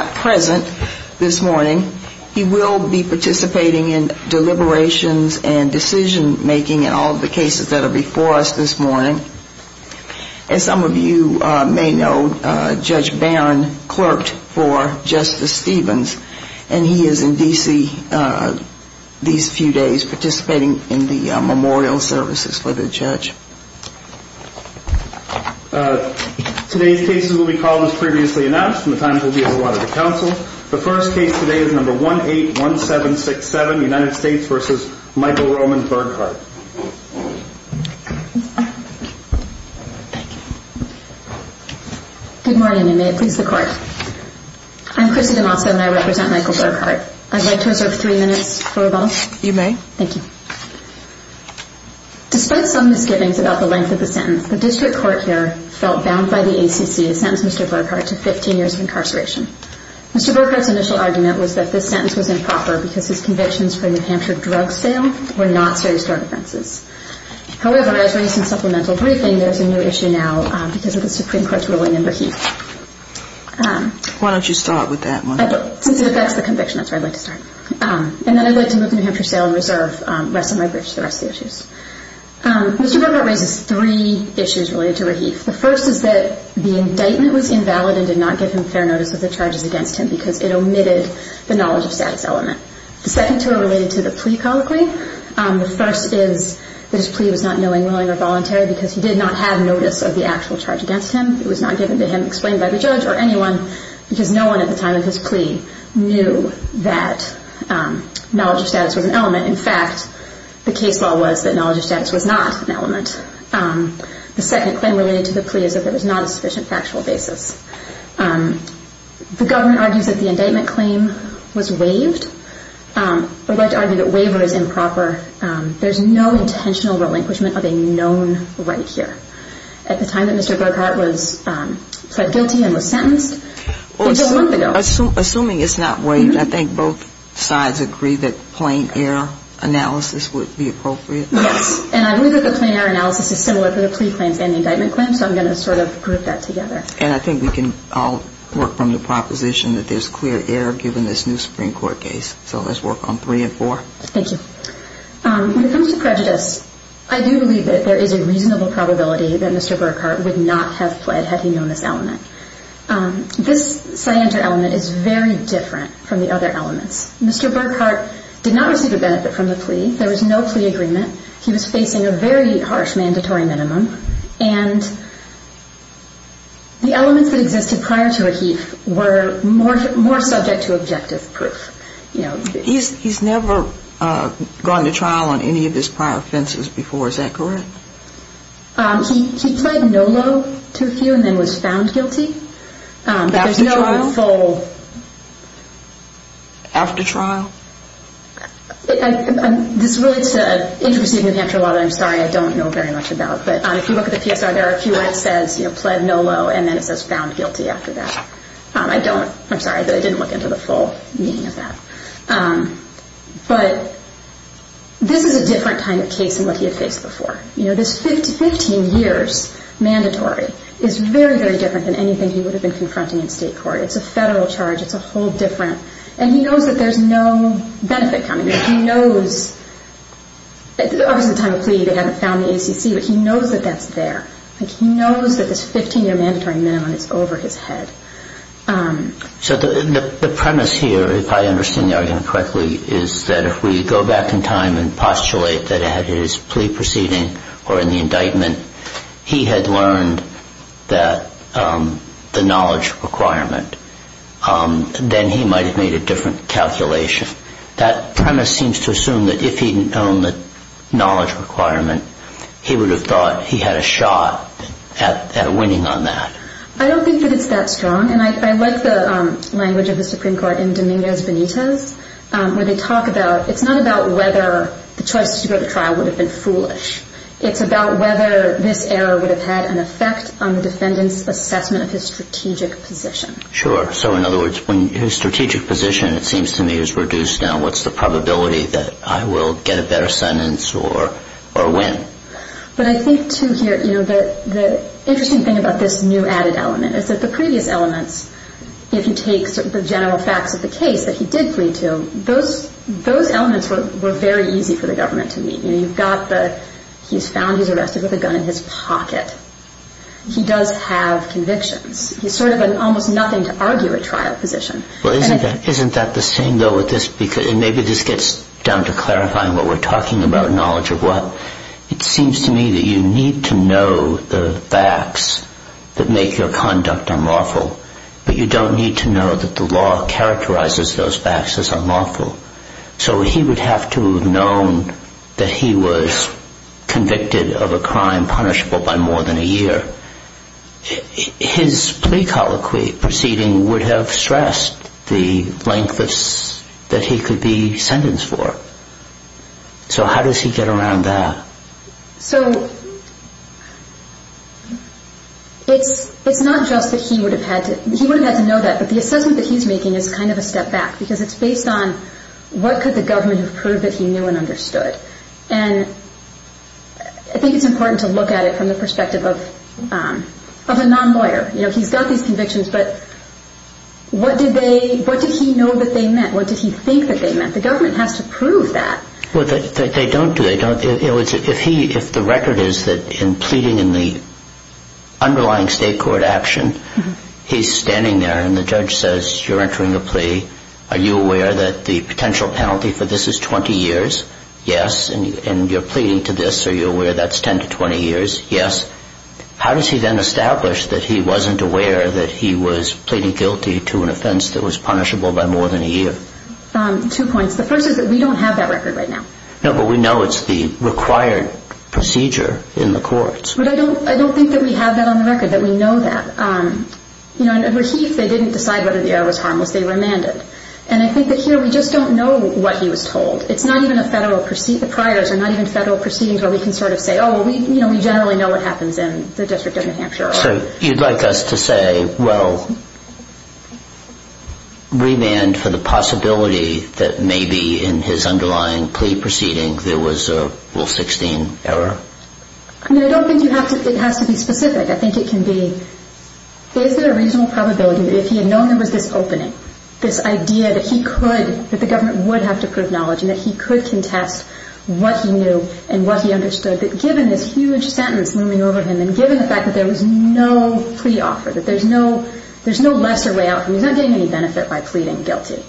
is not present this morning. He will be participating in deliberations and decision-making in all the cases that are before us this morning. As some of you may know, Judge Barron clerked for Justice Stevens, and he is in D.C. these few days participating in the memorial services for the judge. Today's cases will be called as previously announced, and the times will be as allotted to counsel. The first case today is number 181767, United States v. Michael Roman Burghardt. Good morning, and may it please the Court. I'm Chrissy DeMazza, and I represent Michael Burghardt. I'd like to reserve three minutes for rebuttal. You may. Okay. Thank you. Despite some misgivings about the length of the sentence, the district court here felt bound by the ACC to sentence Mr. Burghardt to 15 years of incarceration. Mr. Burghardt's initial argument was that this sentence was improper because his convictions for the New Hampshire drug sale were not serious drug offenses. However, I was reading some supplemental briefing. There's a new issue now because of the Supreme Court's ruling under Heath. Why don't you start with that one? Since it affects the conviction, that's where I'd like to start. And then I'd like to move on to New Hampshire sale and reserve. Rest of my brief is the rest of the issues. Mr. Burghardt raises three issues related to Raheef. The first is that the indictment was invalid and did not give him fair notice of the charges against him because it omitted the knowledge of status element. The second two are related to the plea colloquy. The first is that his plea was not knowing, willing, or voluntary because he did not have notice of the actual charge against him. It was not given to him, explained by the judge, or anyone because no one at the time of his was an element. In fact, the case law was that knowledge of status was not an element. The second claim related to the plea is that there was not a sufficient factual basis. The government argues that the indictment claim was waived. I'd like to argue that waiver is improper. There's no intentional relinquishment of a known right here. At the time that Mr. Burghardt was pled guilty and was sentenced, it was a month ago. Assuming it's not waived, I think both sides agree that plain error analysis would be appropriate? Yes. And I believe that the plain error analysis is similar for the plea claim and the indictment claim, so I'm going to sort of group that together. And I think we can all work from the proposition that there's clear error given this new Supreme Court case. So let's work on three and four. Thank you. When it comes to prejudice, I do believe that there is a reasonable probability that Mr. Burghardt would not have pled had he known this element. This cyander element is very different from the other elements. Mr. Burghardt did not receive a benefit from the plea. There was no plea agreement. He was facing a very harsh mandatory minimum. And the elements that existed prior to a heath were more subject to objective proof. He's never gone to trial on any of his prior offenses before. Is that correct? He pled no low to a few and then was found guilty. After trial? There's no full... After trial? This relates to interpreting the Panther Law that I'm sorry I don't know very much about. But if you look at the PSR, there are a few where it says, you know, pled no low, and then it says found guilty after that. I don't, I'm sorry, but I didn't look into the full meaning of that. But this is a different kind of case than what he had faced before. You know, this 15 years mandatory is very, very different than anything he would have been confronting in state court. It's a federal charge. It's a whole different, and he knows that there's no benefit coming. He knows, obviously at the time of the plea they haven't found the ACC, but he knows that that's there. He knows that this 15 year mandatory minimum is over his head. So the premise here, if I understand the argument correctly, is that if we go back in time and postulate that at his plea proceeding or in the indictment, he had learned that the knowledge requirement, then he might have made a different calculation. That premise seems to assume that if he'd known the knowledge requirement, he would have thought he had a shot at winning on that. I don't think that it's that strong, and I like the language of the Supreme Court in Dominguez Benitez, where they talk about, it's not about whether the choice to go to trial would have been foolish. It's about whether this error would have had an effect on the defendant's assessment of his strategic position. Sure. So in other words, when his strategic position, it seems to me, is reduced now, what's the probability that I will get a better sentence or win? Okay. But I think, too, here, the interesting thing about this new added element is that the previous elements, if you take the general facts of the case that he did plead to, those elements were very easy for the government to meet. You've got the, he's found he's arrested with a gun in his pocket. He does have convictions. He's sort of an almost nothing to argue at trial position. Isn't that the same, though, with this, and maybe this gets down to clarifying what we're It seems to me that you need to know the facts that make your conduct unlawful, but you don't need to know that the law characterizes those facts as unlawful. So he would have to have known that he was convicted of a crime punishable by more than a year. His plea colloquy proceeding would have stressed the length that he could be sentenced for. So how does he get around that? So it's not just that he would have had to, he would have had to know that, but the assessment that he's making is kind of a step back because it's based on what could the government have proved that he knew and understood. And I think it's important to look at it from the perspective of a non-lawyer. You know, he's got these convictions, but what did they, what did he know that they meant? What did he think that they meant? The government has to prove that. Well, they don't do it. If he, if the record is that in pleading in the underlying state court action, he's standing there and the judge says, you're entering a plea. Are you aware that the potential penalty for this is 20 years? Yes. And you're pleading to this. Are you aware that's 10 to 20 years? Yes. How does he then establish that he wasn't aware that he was pleading guilty to an offense that was punishable by more than a year? Two points. The first is that we don't have that record right now. No, but we know it's the required procedure in the courts. But I don't, I don't think that we have that on the record, that we know that. You know, in Rahife, they didn't decide whether the error was harmless. They remanded. And I think that here we just don't know what he was told. It's not even a federal, the priors are not even federal proceedings where we can sort of say, oh, we, you know, we generally know what happens in the District of New Hampshire. So you'd like us to say, well, remand for the possibility that maybe in his underlying plea proceeding there was a Rule 16 error? I mean, I don't think you have to, it has to be specific. I think it can be, is there a reasonable probability that if he had known there was this opening, this idea that he could, that the government would have to prove knowledge and that he could contest what he knew and what he understood, that given this huge sentence looming over him, and given the fact that there was no plea offer, that there's no, there's no lesser way out, he's not getting any benefit by pleading guilty,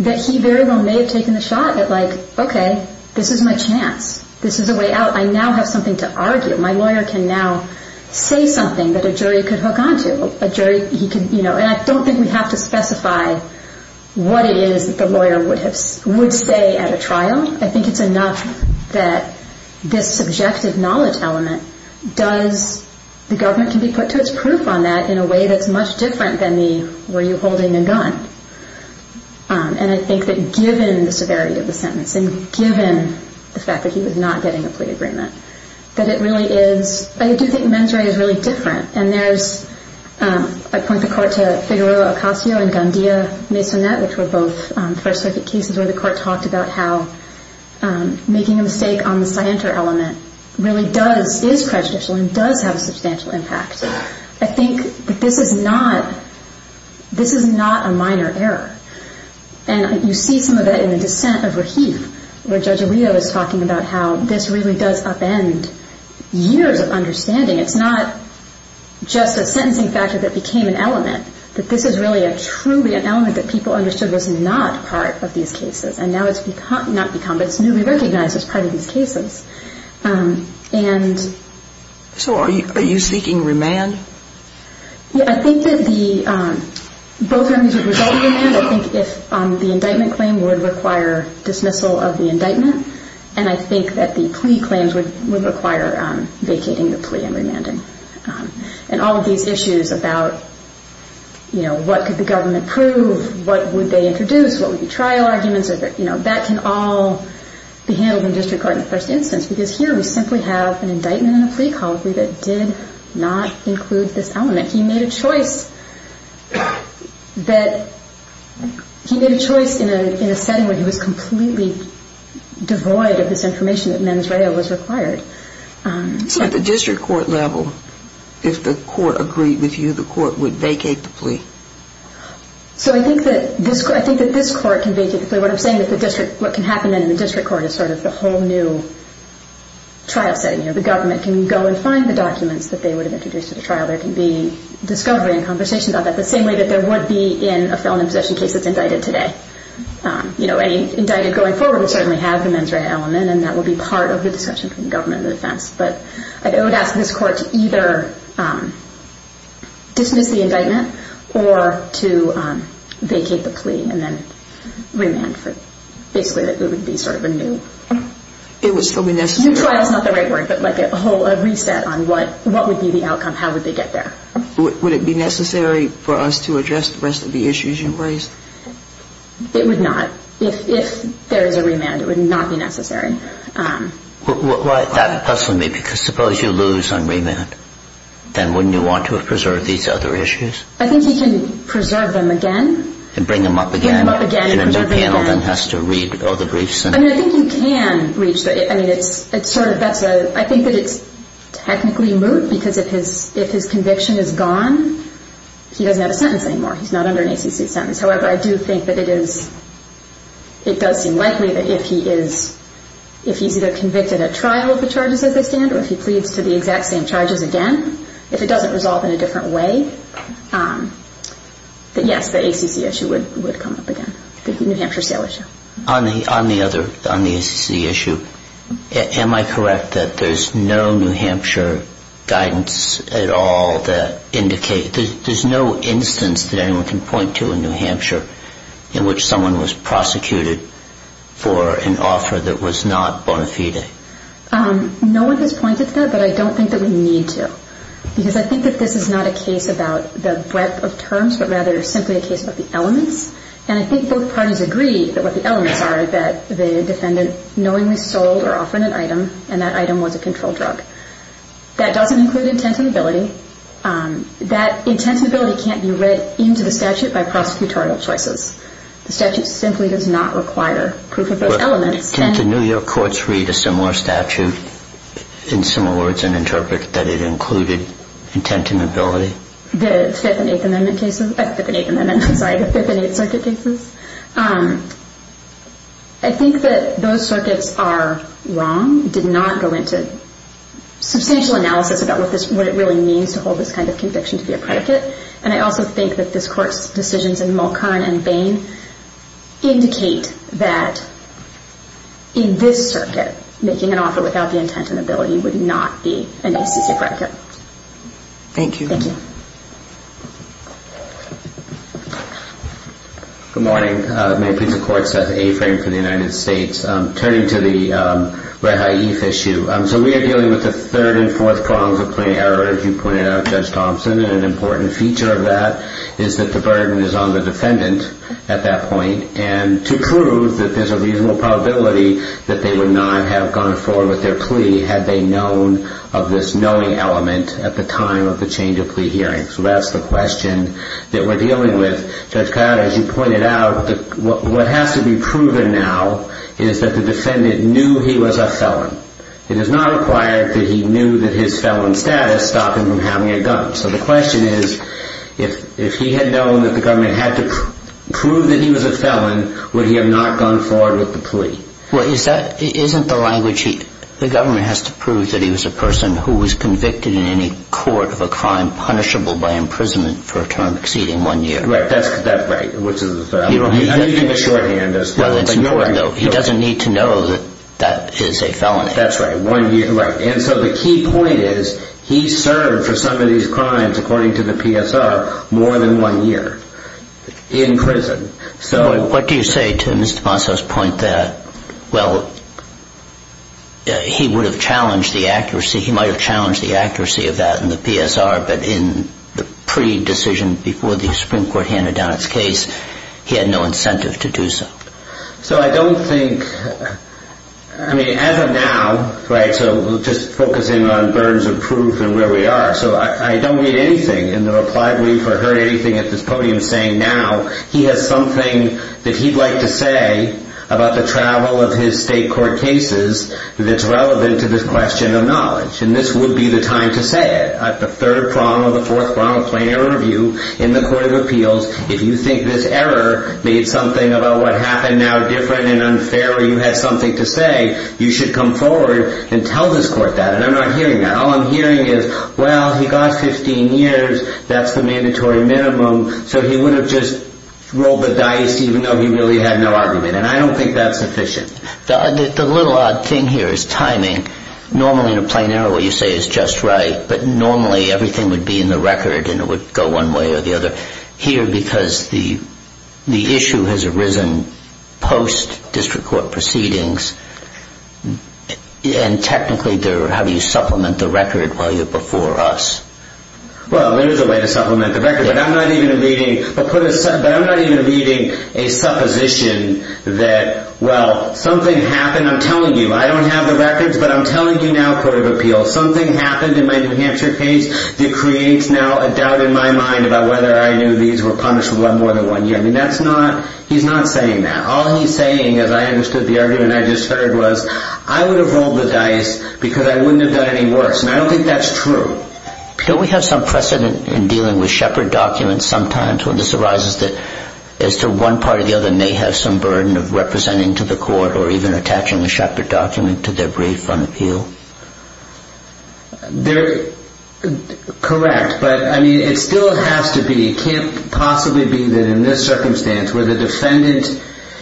that he very well may have taken the shot at like, okay, this is my chance. This is a way out. I now have something to argue. My lawyer can now say something that a jury could hook onto. A jury, he could, you know, and I don't think we have to specify what it is that the lawyer would have, would say at a trial. I think it's enough that this subjective knowledge element does, the government can be put to its proof on that in a way that's much different than the, were you holding a gun? And I think that given the severity of the sentence and given the fact that he was not getting a plea agreement, that it really is, I do think mens rea is really different. And there's, I point the court to Figueroa Ocasio and Gandia Maisonet, which were both First Circuit cases where the court talked about how making a mistake on the scienter element really does, is prejudicial and does have a substantial impact. I think that this is not, this is not a minor error. And you see some of that in the dissent of Rahif, where Judge Rio is talking about how this really does upend years of understanding. It's not just a sentencing factor that became an element, that this is really a truly an element that people understood was not part of these cases. And now it's become, not become, but it's newly recognized as part of these cases. And... So are you, are you seeking remand? Yeah, I think that the, both armies would result in remand. I think if the indictment claim would require dismissal of the indictment. And I think that the plea claims would require vacating the plea and remanding. And all of these issues about, you know, what could the trial arguments of it, you know, that can all be handled in district court in the first instance. Because here we simply have an indictment and a plea called plea that did not include this element. He made a choice that, he made a choice in a, in a setting where he was completely devoid of this information that mens rea was required. So at the district court level, if the court agreed with you, the court would vacate the plea? So I think that this, I think that this court can vacate the plea. What I'm saying is the district, what can happen then in the district court is sort of the whole new trial setting. You know, the government can go and find the documents that they would have introduced to the trial. There can be discovery and conversation about that. The same way that there would be in a felon in possession case that's indicted today. You know, any indicted going forward would certainly have the mens rea element and that would be part of the discussion between the government and the defense. But I would ask this court to either dismiss the indictment or to vacate the plea and then remand for, basically it would be sort of a new. It would still be necessary. New trial is not the right word, but like a whole, a reset on what, what would be the outcome, how would they get there? Would it be necessary for us to address the rest of the issues you raised? It would not. If, if there is a remand, it would not be necessary. Why, that, that's for me, because suppose you lose on remand, then wouldn't you want to have preserved these other issues? I think you can preserve them again. And bring them up again. Bring them up again and preserve them again. And a new panel then has to read all the briefs. I mean, I think you can reach the, I mean, it's, it's sort of, that's a, I think that it's technically moot because if his, if his conviction is gone, he doesn't have a sentence anymore. He's not under an ACC sentence. However, I do think that it is, it does seem likely that if he is, if he's either convicted at trial of the charges as they stand or if he doesn't resolve in a different way, that yes, the ACC issue would, would come up again, the New Hampshire sale issue. On the, on the other, on the ACC issue, am I correct that there's no New Hampshire guidance at all that indicates, there's no instance that anyone can point to in New Hampshire in which someone was prosecuted for an offer that was not bona fide? No one has pointed to that, but I don't think that we need to, because I think that this is not a case about the breadth of terms, but rather simply a case about the elements. And I think both parties agree that what the elements are that the defendant knowingly sold or offered an item and that item was a controlled drug. That doesn't include intent and ability. That intent and ability can't be read into the statute by prosecutorial choices. The statute simply does not require proof of those elements. Can't the New York courts read a similar statute in similar words and interpret that it included intent and ability? The Fifth and Eighth Amendment cases, sorry, the Fifth and Eighth Circuit cases? I think that those circuits are wrong, did not go into substantial analysis about what this, what it really means to hold this kind of conviction to be a predicate. And I also think that this court's decisions in Mulcairn and Bain indicate that in this circuit, making an offer without the intent and ability would not be an ACC record. Thank you. Thank you. Good morning. Mayor Pete of Courts, Seth Afrin for the United States. Turning to the Red High Heath issue, so we are dealing with the third and fourth prongs of plea error, as you pointed out, Judge Thompson, and an important feature of that is that the burden is on the defendant at that point. And to prove that there's a reasonable probability that they would not have gone forward with their plea had they known of this knowing element at the time of the change of plea hearing. So that's the question that we're dealing with. Judge Coyote, as you pointed out, what has to be proven now is that the defendant knew he was a felon. It is not required that he knew that his felon status stopped him from having a gun. So the question is, if he had known that the government had to prove that he was a felon, would he have not gone forward with the plea? Well, isn't the language, the government has to prove that he was a person who was convicted in any court of a crime punishable by imprisonment for a term exceeding one year. Right, that's right, which is a felon. I know you gave a shorthand as well. Well, it's important, though. He doesn't need to know that that is a felon. That's right, one year. And so the key point is he served for some of these crimes, according to the PSR, more than one year in prison. What do you say to Mr. Ponce's point that, well, he would have challenged the accuracy, he might have challenged the accuracy of that in the PSR, but in the pre- decision before the Supreme Court handed down its case, he had no incentive to do so. So I don't think, I mean, as of now, right, so just focusing on burdens of proof and where we are, so I don't read anything in the reply brief or heard anything at this podium saying now he has something that he'd like to say about the travel of his state court cases that's relevant to this question of knowledge. And this would be the time to say it. At the third prong of the fourth prong of plainer review in the record, and it would go one way or the other. Here, because the issue has arisen post-district court proceedings, and technically, how do you supplement the record while you're before us? Well, there is a way to supplement the record, but I'm not even reading a supposition that, well, something happened, I'm telling you, I don't have the records, but I'm telling you now, Court of Appeals, something happened in my New Hampshire case that creates now a doubt in my mind about whether I knew these cases were punished for more than one year. I mean, that's not, he's not saying that. All he's saying, as I understood the argument I just heard, was I would have rolled the dice because I wouldn't have done any worse, and I don't think that's true. Don't we have some precedent in dealing with Shepard documents sometimes when this arises that as to one part or the other may have some burden of representing to the court or even attaching a Shepard document to their brief on appeal? They're correct, but, I mean, it still has to be, it can't possibly be that in this circumstance where the defendant,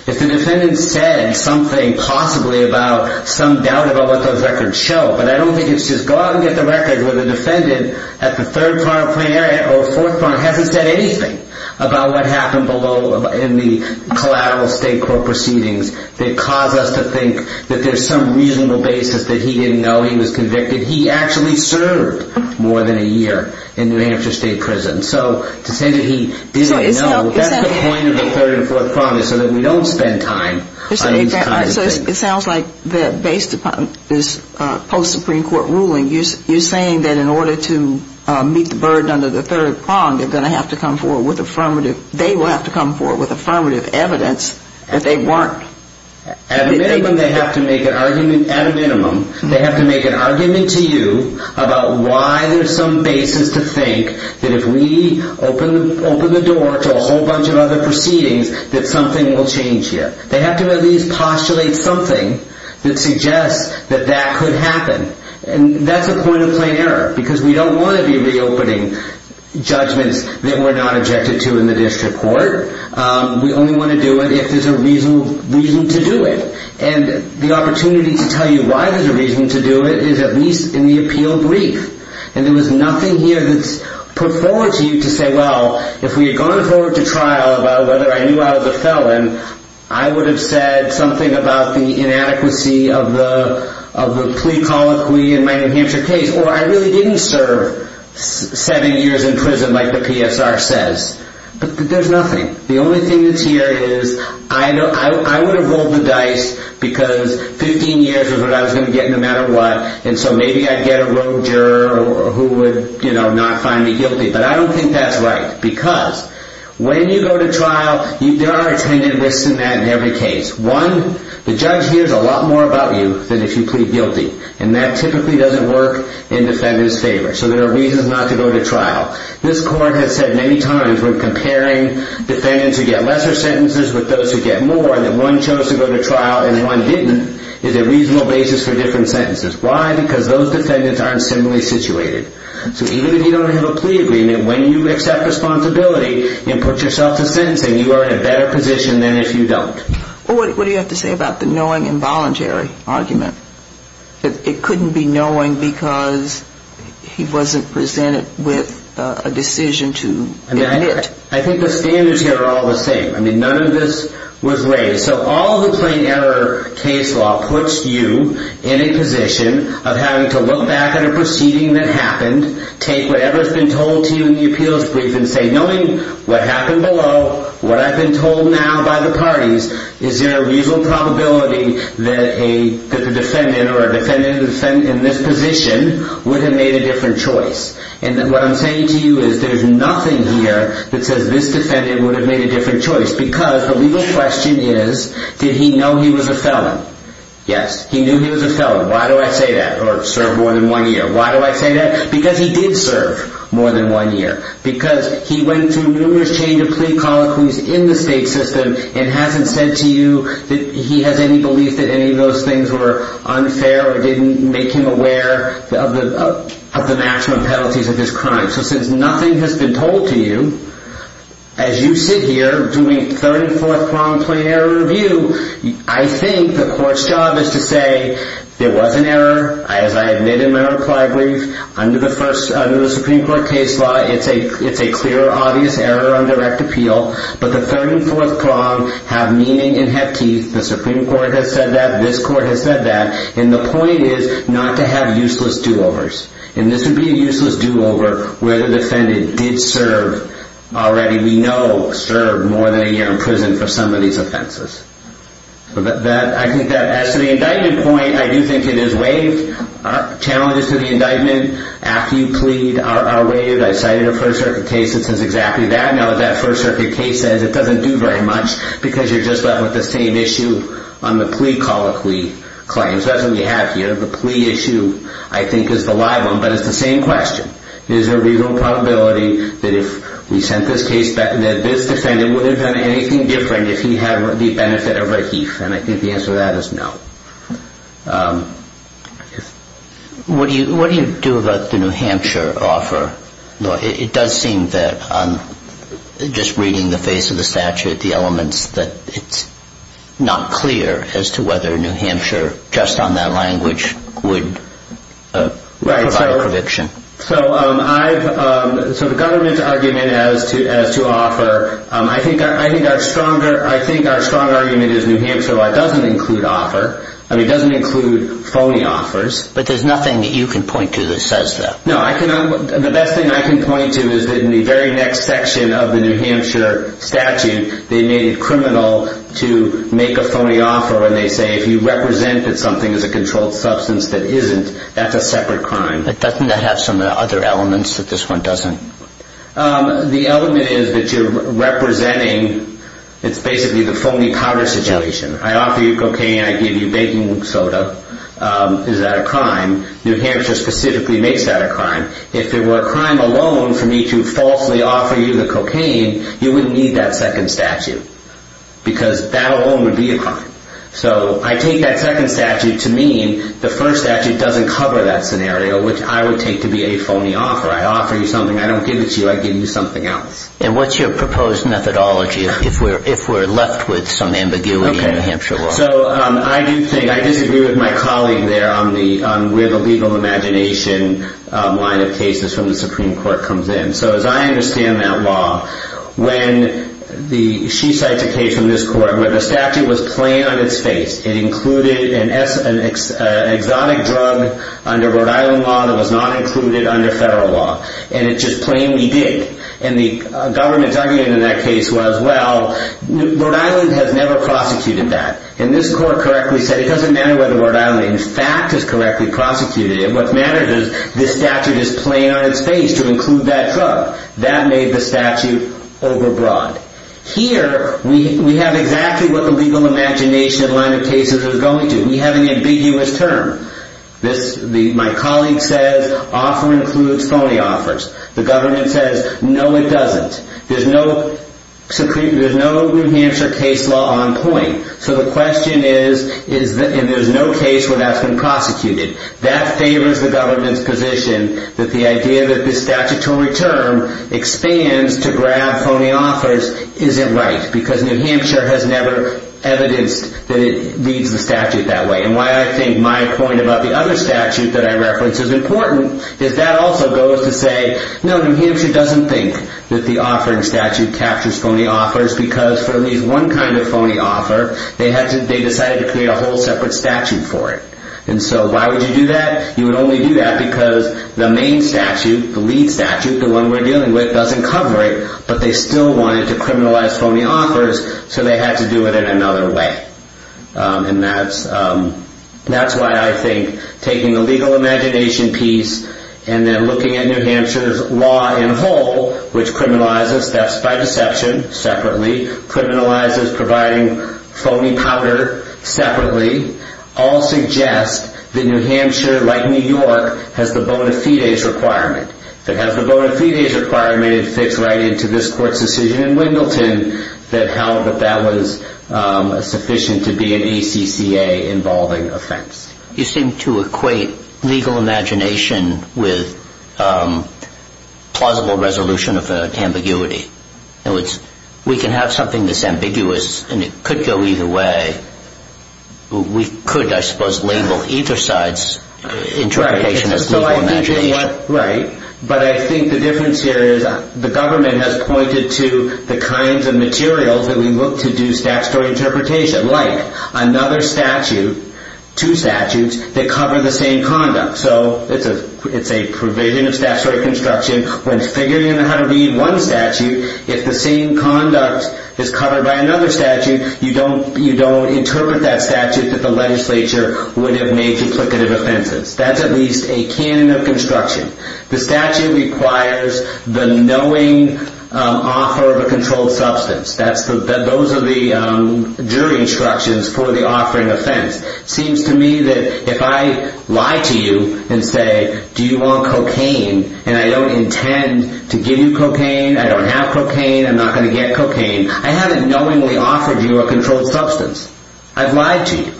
if the defendant said something possibly about some doubt about what those records show, but I don't think it's just go out and get the records where the defendant at the third front of plenary or fourth front hasn't said anything about what happened below in the collateral state court proceedings that cause us to think that there's some reasonable basis that he didn't know he was convicted. He actually served more than a year in New Hampshire State Prison. So to say that he didn't know, that's the point of the third and fourth prong is so that we don't spend time on these kinds of things. So it sounds like based upon this post-Supreme Court ruling, you're saying that in order to meet the burden under the third prong, they're going to have to come forward with affirmative, they will have to come forward with affirmative evidence that they weren't. At a minimum, they have to make an argument, at a minimum, they have to make an argument to you about why there's some basis to think that if we open the door to a whole bunch of other proceedings, that something will change here. They have to at least postulate something that suggests that that could happen. And that's a point of plenary, because we don't want to be reopening judgments that we're not objected to in the district court. We only want to do it if there's a reason to do it. And the opportunity to tell you why there's a reason to do it is at least in the appeal brief. And there was nothing here that's put forward to you to say, well, if we had gone forward to trial about whether I knew I was a felon, I would have said something about the inadequacy of the plea colloquy in my New Hampshire case, or I really didn't serve seven years in prison like the PSR says. But there's nothing. The only thing that's here is I would have rolled the dice because 15 years is what I was going to get no matter what, and so maybe I'd get a wrong juror who would not find me guilty. But I don't think that's right, because when you go to trial, there are attendant risks in that in every case. One, the judge hears a lot more about you than if you plead guilty, and that the court has said many times when comparing defendants who get lesser sentences with those who get more and that one chose to go to trial and one didn't is a reasonable basis for different sentences. Why? Because those defendants aren't similarly situated. So even if you don't have a plea agreement, when you accept responsibility and put yourself to sentencing, you are in a better position than if you don't. Well, what do you have to say about the knowing involuntary argument? It couldn't be knowing because he wasn't presented with a decision to admit. I think the standards here are all the same. I mean, none of this was raised. So all the plain error case law puts you in a position of having to look back at a proceeding that happened, take whatever's been told to you in the appeals brief and say, knowing what happened below, what I've been told now by the parties, is there a reasonable probability that a defendant or a defendant in this position would have made a different choice? And what I'm saying to you is there's nothing here that says this defendant would have made a different choice because the legal question is, did he know he was a felon? Yes, he knew he was a felon. Why do I say that? He served more than one year. Why do I say that? Because he did serve more than one year. Because he went through numerous change of plea colloquies in the state system and hasn't said to you that he has any belief that any of those things were unfair or didn't make him aware of the maximum penalties of his crime. So since nothing has been told to you, as you sit here doing third and fourth problem, plain error review, I think the court's job is to say, there was an error, as I admit in my reply brief, under the Supreme Court case law, it's a clear, obvious error on direct appeal. But the third and fourth problem have meaning and have teeth. The Supreme Court has said that. This court has said that. And the point is not to have useless do-overs. And this would be a useless do-over where the defendant did serve already, we know, served more than a year in prison for some of these offenses. I think that as to the indictment point, I do think it is waived. Challenges to the indictment after you plead are waived. I cited a First Circuit case that says exactly that. Now, what that First Circuit case says, it doesn't do very much because you're just left with the same issue on the plea colloquy claims. That's what we have here. The plea issue I think is the live one, but it's the same question. Is there a legal probability that if we sent this case back, that this defendant would have done anything different if he had the benefit of a heath? And I think the answer to that is no. What do you do about the New Hampshire offer? It does seem that just reading the face of the statute, the elements, that it's not clear as to whether New Hampshire, just on that language, would provide a prediction. So the government's argument as to offer, I think our stronger argument is New Hampshire doesn't include phony offers. But there's nothing that you can point to that says that. No, the best thing I can point to is that in the very next section of the New Hampshire statute, they made it criminal to make a phony offer when they say if you represent that something is a controlled substance that isn't, that's a separate crime. But doesn't that have some other elements that this one doesn't? The element is that you're representing, it's basically the phony powder situation. I offer you cocaine, I give you baking soda. Is that a crime? New Hampshire specifically makes that a crime. If it were a crime alone for me to falsely offer you the cocaine, you wouldn't need that second statute. Because that alone would be a crime. So I take that second statute to mean the first statute doesn't cover that scenario, which I would take to be a phony offer. I offer you something, I don't give it to you, I give you something else. And what's your proposed methodology if we're left with some ambiguity in the New Hampshire law? I disagree with my colleague there on where the legal imagination line of cases from the Supreme Court comes in. So as I understand that law, when she cites a case from this court where the statute was plain on its face. It included an exotic drug under Rhode Island law that was not included under federal law. And it just plainly did. And the government's argument in that case was well, Rhode Island has never prosecuted that. And this court correctly said it doesn't matter whether Rhode Island in fact has correctly prosecuted it. What matters is this statute is plain on its face to include that drug. That made the statute over broad. Here we have exactly what the legal imagination line of cases is going to. We have an ambiguous term. My colleague says offer includes phony offers. The government says no it doesn't. There's no New Hampshire case law on point. So the question is, and there's no case where that's been prosecuted. That favors the government's position that the idea that the statutory term expands to grab phony offers isn't right. Because New Hampshire has never evidenced that it leads the statute that way. And why I think my point about the other statute that I reference is important is that also goes to say no, New Hampshire doesn't think that the offering statute captures phony offers because for at least one kind of phony offer, they decided to create a whole separate statute for it. And so why would you do that? You would only do that because the main statute, the lead statute, the one we're dealing with doesn't cover it, but they still wanted to criminalize phony offers so they had to do it in another way. And that's why I think taking the legal imagination piece and then looking at New Hampshire's law in whole, which criminalizes thefts by deception separately, criminalizes providing a phony offer. I think that's a major requirement to fix right into this court's decision in Wendleton that held that that was sufficient to be an ECCA involving offense. You seem to equate legal imagination with plausible resolution of ambiguity. In other words, we can have something that's ambiguous and it could go either way. We could, I suppose, label either side's interpretation as legal imagination. Right. But I think the difference here is the government has pointed to the kinds of materials that we look to do statutory interpretation, like another statute, two statutes that cover the same conduct. So it's a provision of statutory construction. When figuring out how to read one statute, if the same conduct is covered by another statute, you don't interpret that statute that the legislature would have made duplicative offenses. That's at least a canon of construction. The statute requires the knowing offer of a controlled substance. Those are the jury instructions for the offering offense. Seems to me that if I lie to you and say, do you want cocaine, and I don't intend to give you cocaine, I don't have cocaine, I'm not going to get cocaine, I haven't knowingly offered you a controlled substance. I've lied to you.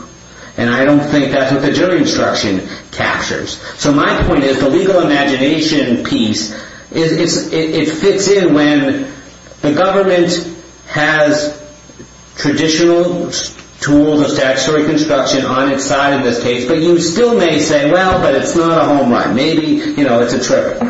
And I don't think that's what the jury instruction captures. So my point is the legal imagination piece is it fits in when the government has traditional tools of statutory construction on its side in this case. But you still may say, well, but it's not a home run. Maybe it's a trip.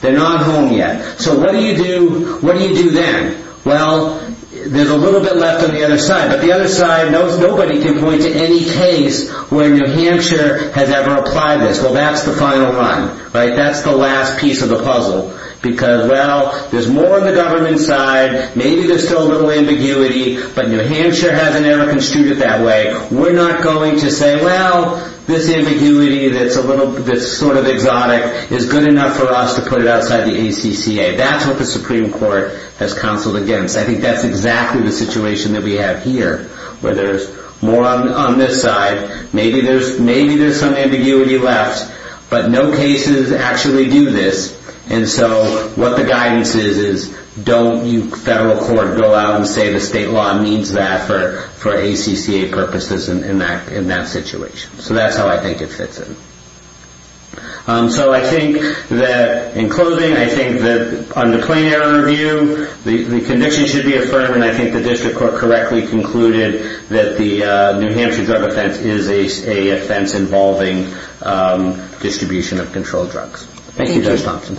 They're not home yet. So what do you do then? Well, there's a little bit left on the other side. But the other side, nobody can point to any case where New Hampshire has ever applied this. Well, that's the final run. That's the last piece of the puzzle. Because, well, there's more on the government side. Maybe there's still a little ambiguity. But New Hampshire hasn't ever construed it that way. We're not going to say, well, this ambiguity that's sort of exotic is good enough for us to put it outside the ACCA. That's what the Supreme Court has counseled against. I think that's exactly the situation that we have here, where there's more on this side. Maybe there's some ambiguity left. But no cases actually do this. And so what the guidance is, is don't you federal court go out and say the state law needs that for ACCA purposes in that situation. So that's how I think it fits in. So I think that in closing, I think that on the plain error view, the conviction should be affirmed. And I think the district court correctly concluded that the New Hampshire drug offense is a offense involving distribution of controlled drugs. Thank you, Judge Thompson.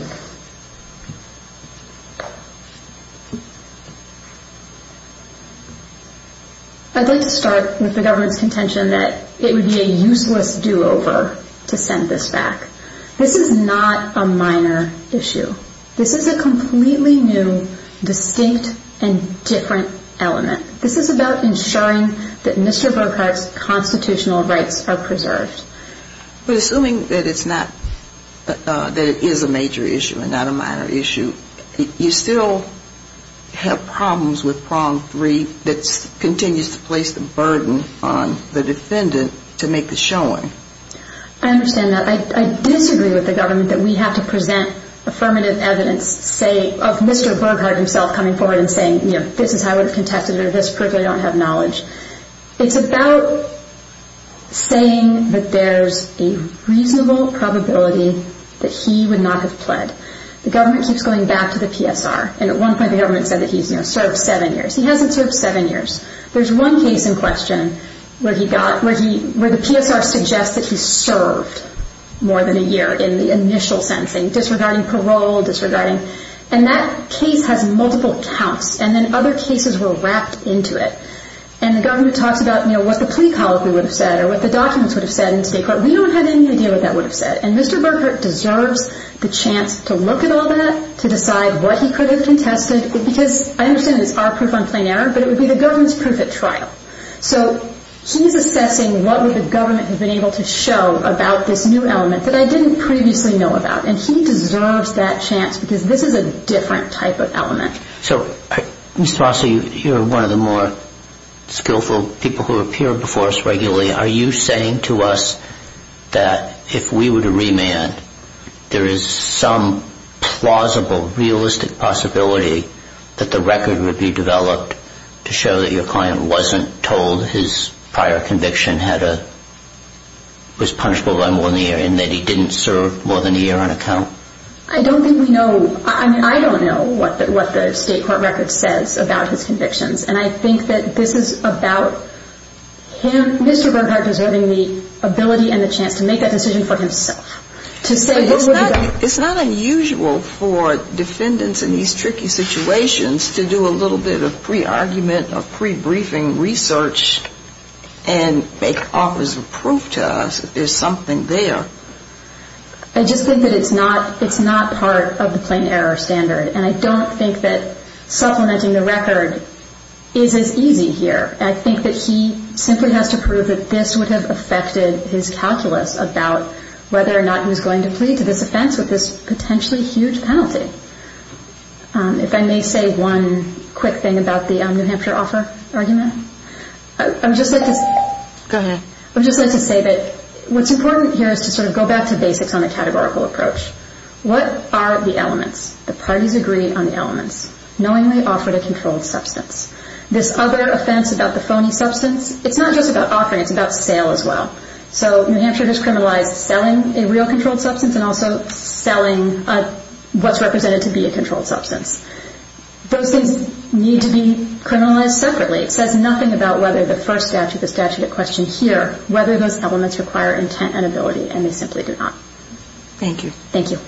I'd like to start with the government's contention that it would be a useless do-over to send this back. This is not a minor issue. This is a completely new, distinct, and different element. This is about ensuring that Mr. Burghardt's constitutional rights are preserved. But assuming that it's not, that it is a major issue and not a minor issue, you still have problems with prong three that continues to place the burden on the defendant to make the showing. I understand that. I disagree with the government that we have to present affirmative evidence, say, of Mr. Burghardt himself coming forward and saying, this is how I would have contested it, or this particular don't have knowledge. It's about saying that there's a reasonable probability that he would not have pled. The government keeps going back to the PSR. And at one point, the government said that he's served seven years. He hasn't served seven years. There's one case in question where the PSR suggests that he served more than a year in the initial sentencing, disregarding parole, disregarding... And that case has multiple counts. And then other cases were wrapped into it. And the government talks about what the plea colloquy would have said or what the documents would have said in state court. We don't have any idea what that would have said. And Mr. Burghardt deserves the chance to look at all that, to decide what he could have contested, because I understand it's our proof on plain error, but it would be the government's proof at trial. So he's assessing what would the government have been able to show about this new element that I didn't previously know about. And he deserves that chance, because this is a different type of element. So, Mr. Rossi, you're one of the more skillful people who appear before us regularly. Are you saying to us that if we were to remand, there is some plausible, realistic possibility that the record would be developed to show that your client wasn't told his prior conviction was punishable by more than a year, and that he didn't serve more than a year on account? I don't think we know. I mean, I don't know what the state court record says about his convictions. And I think that this is about him, Mr. Burghardt, deserving the ability and the chance to make that decision for himself. It's not unusual for defendants in these tricky situations to do a little bit of pre-argument or pre-briefing research and make offers of proof to us that there's something there. I just think that it's not part of the plain error standard. And I don't think that supplementing the record is as easy here. I think that he simply has to prove that this would have affected his calculus about whether or not he was going to plead to this offense with this potentially huge penalty. If I may say one quick thing about the New Hampshire offer argument. I would just like to say that what's important here is to sort of go back to basics on the categorical approach. What are the elements? The parties agree on the elements. Knowingly offered a controlled substance. This other offense about the phony substance, it's not just about offering, it's about sale as well. So New Hampshire just criminalized selling a real controlled substance and also selling what's represented to be a controlled substance. Those things need to be criminalized separately. It says nothing about whether the first statute, the statute at question here, whether those elements require intent and ability, and they simply do not. Thank you.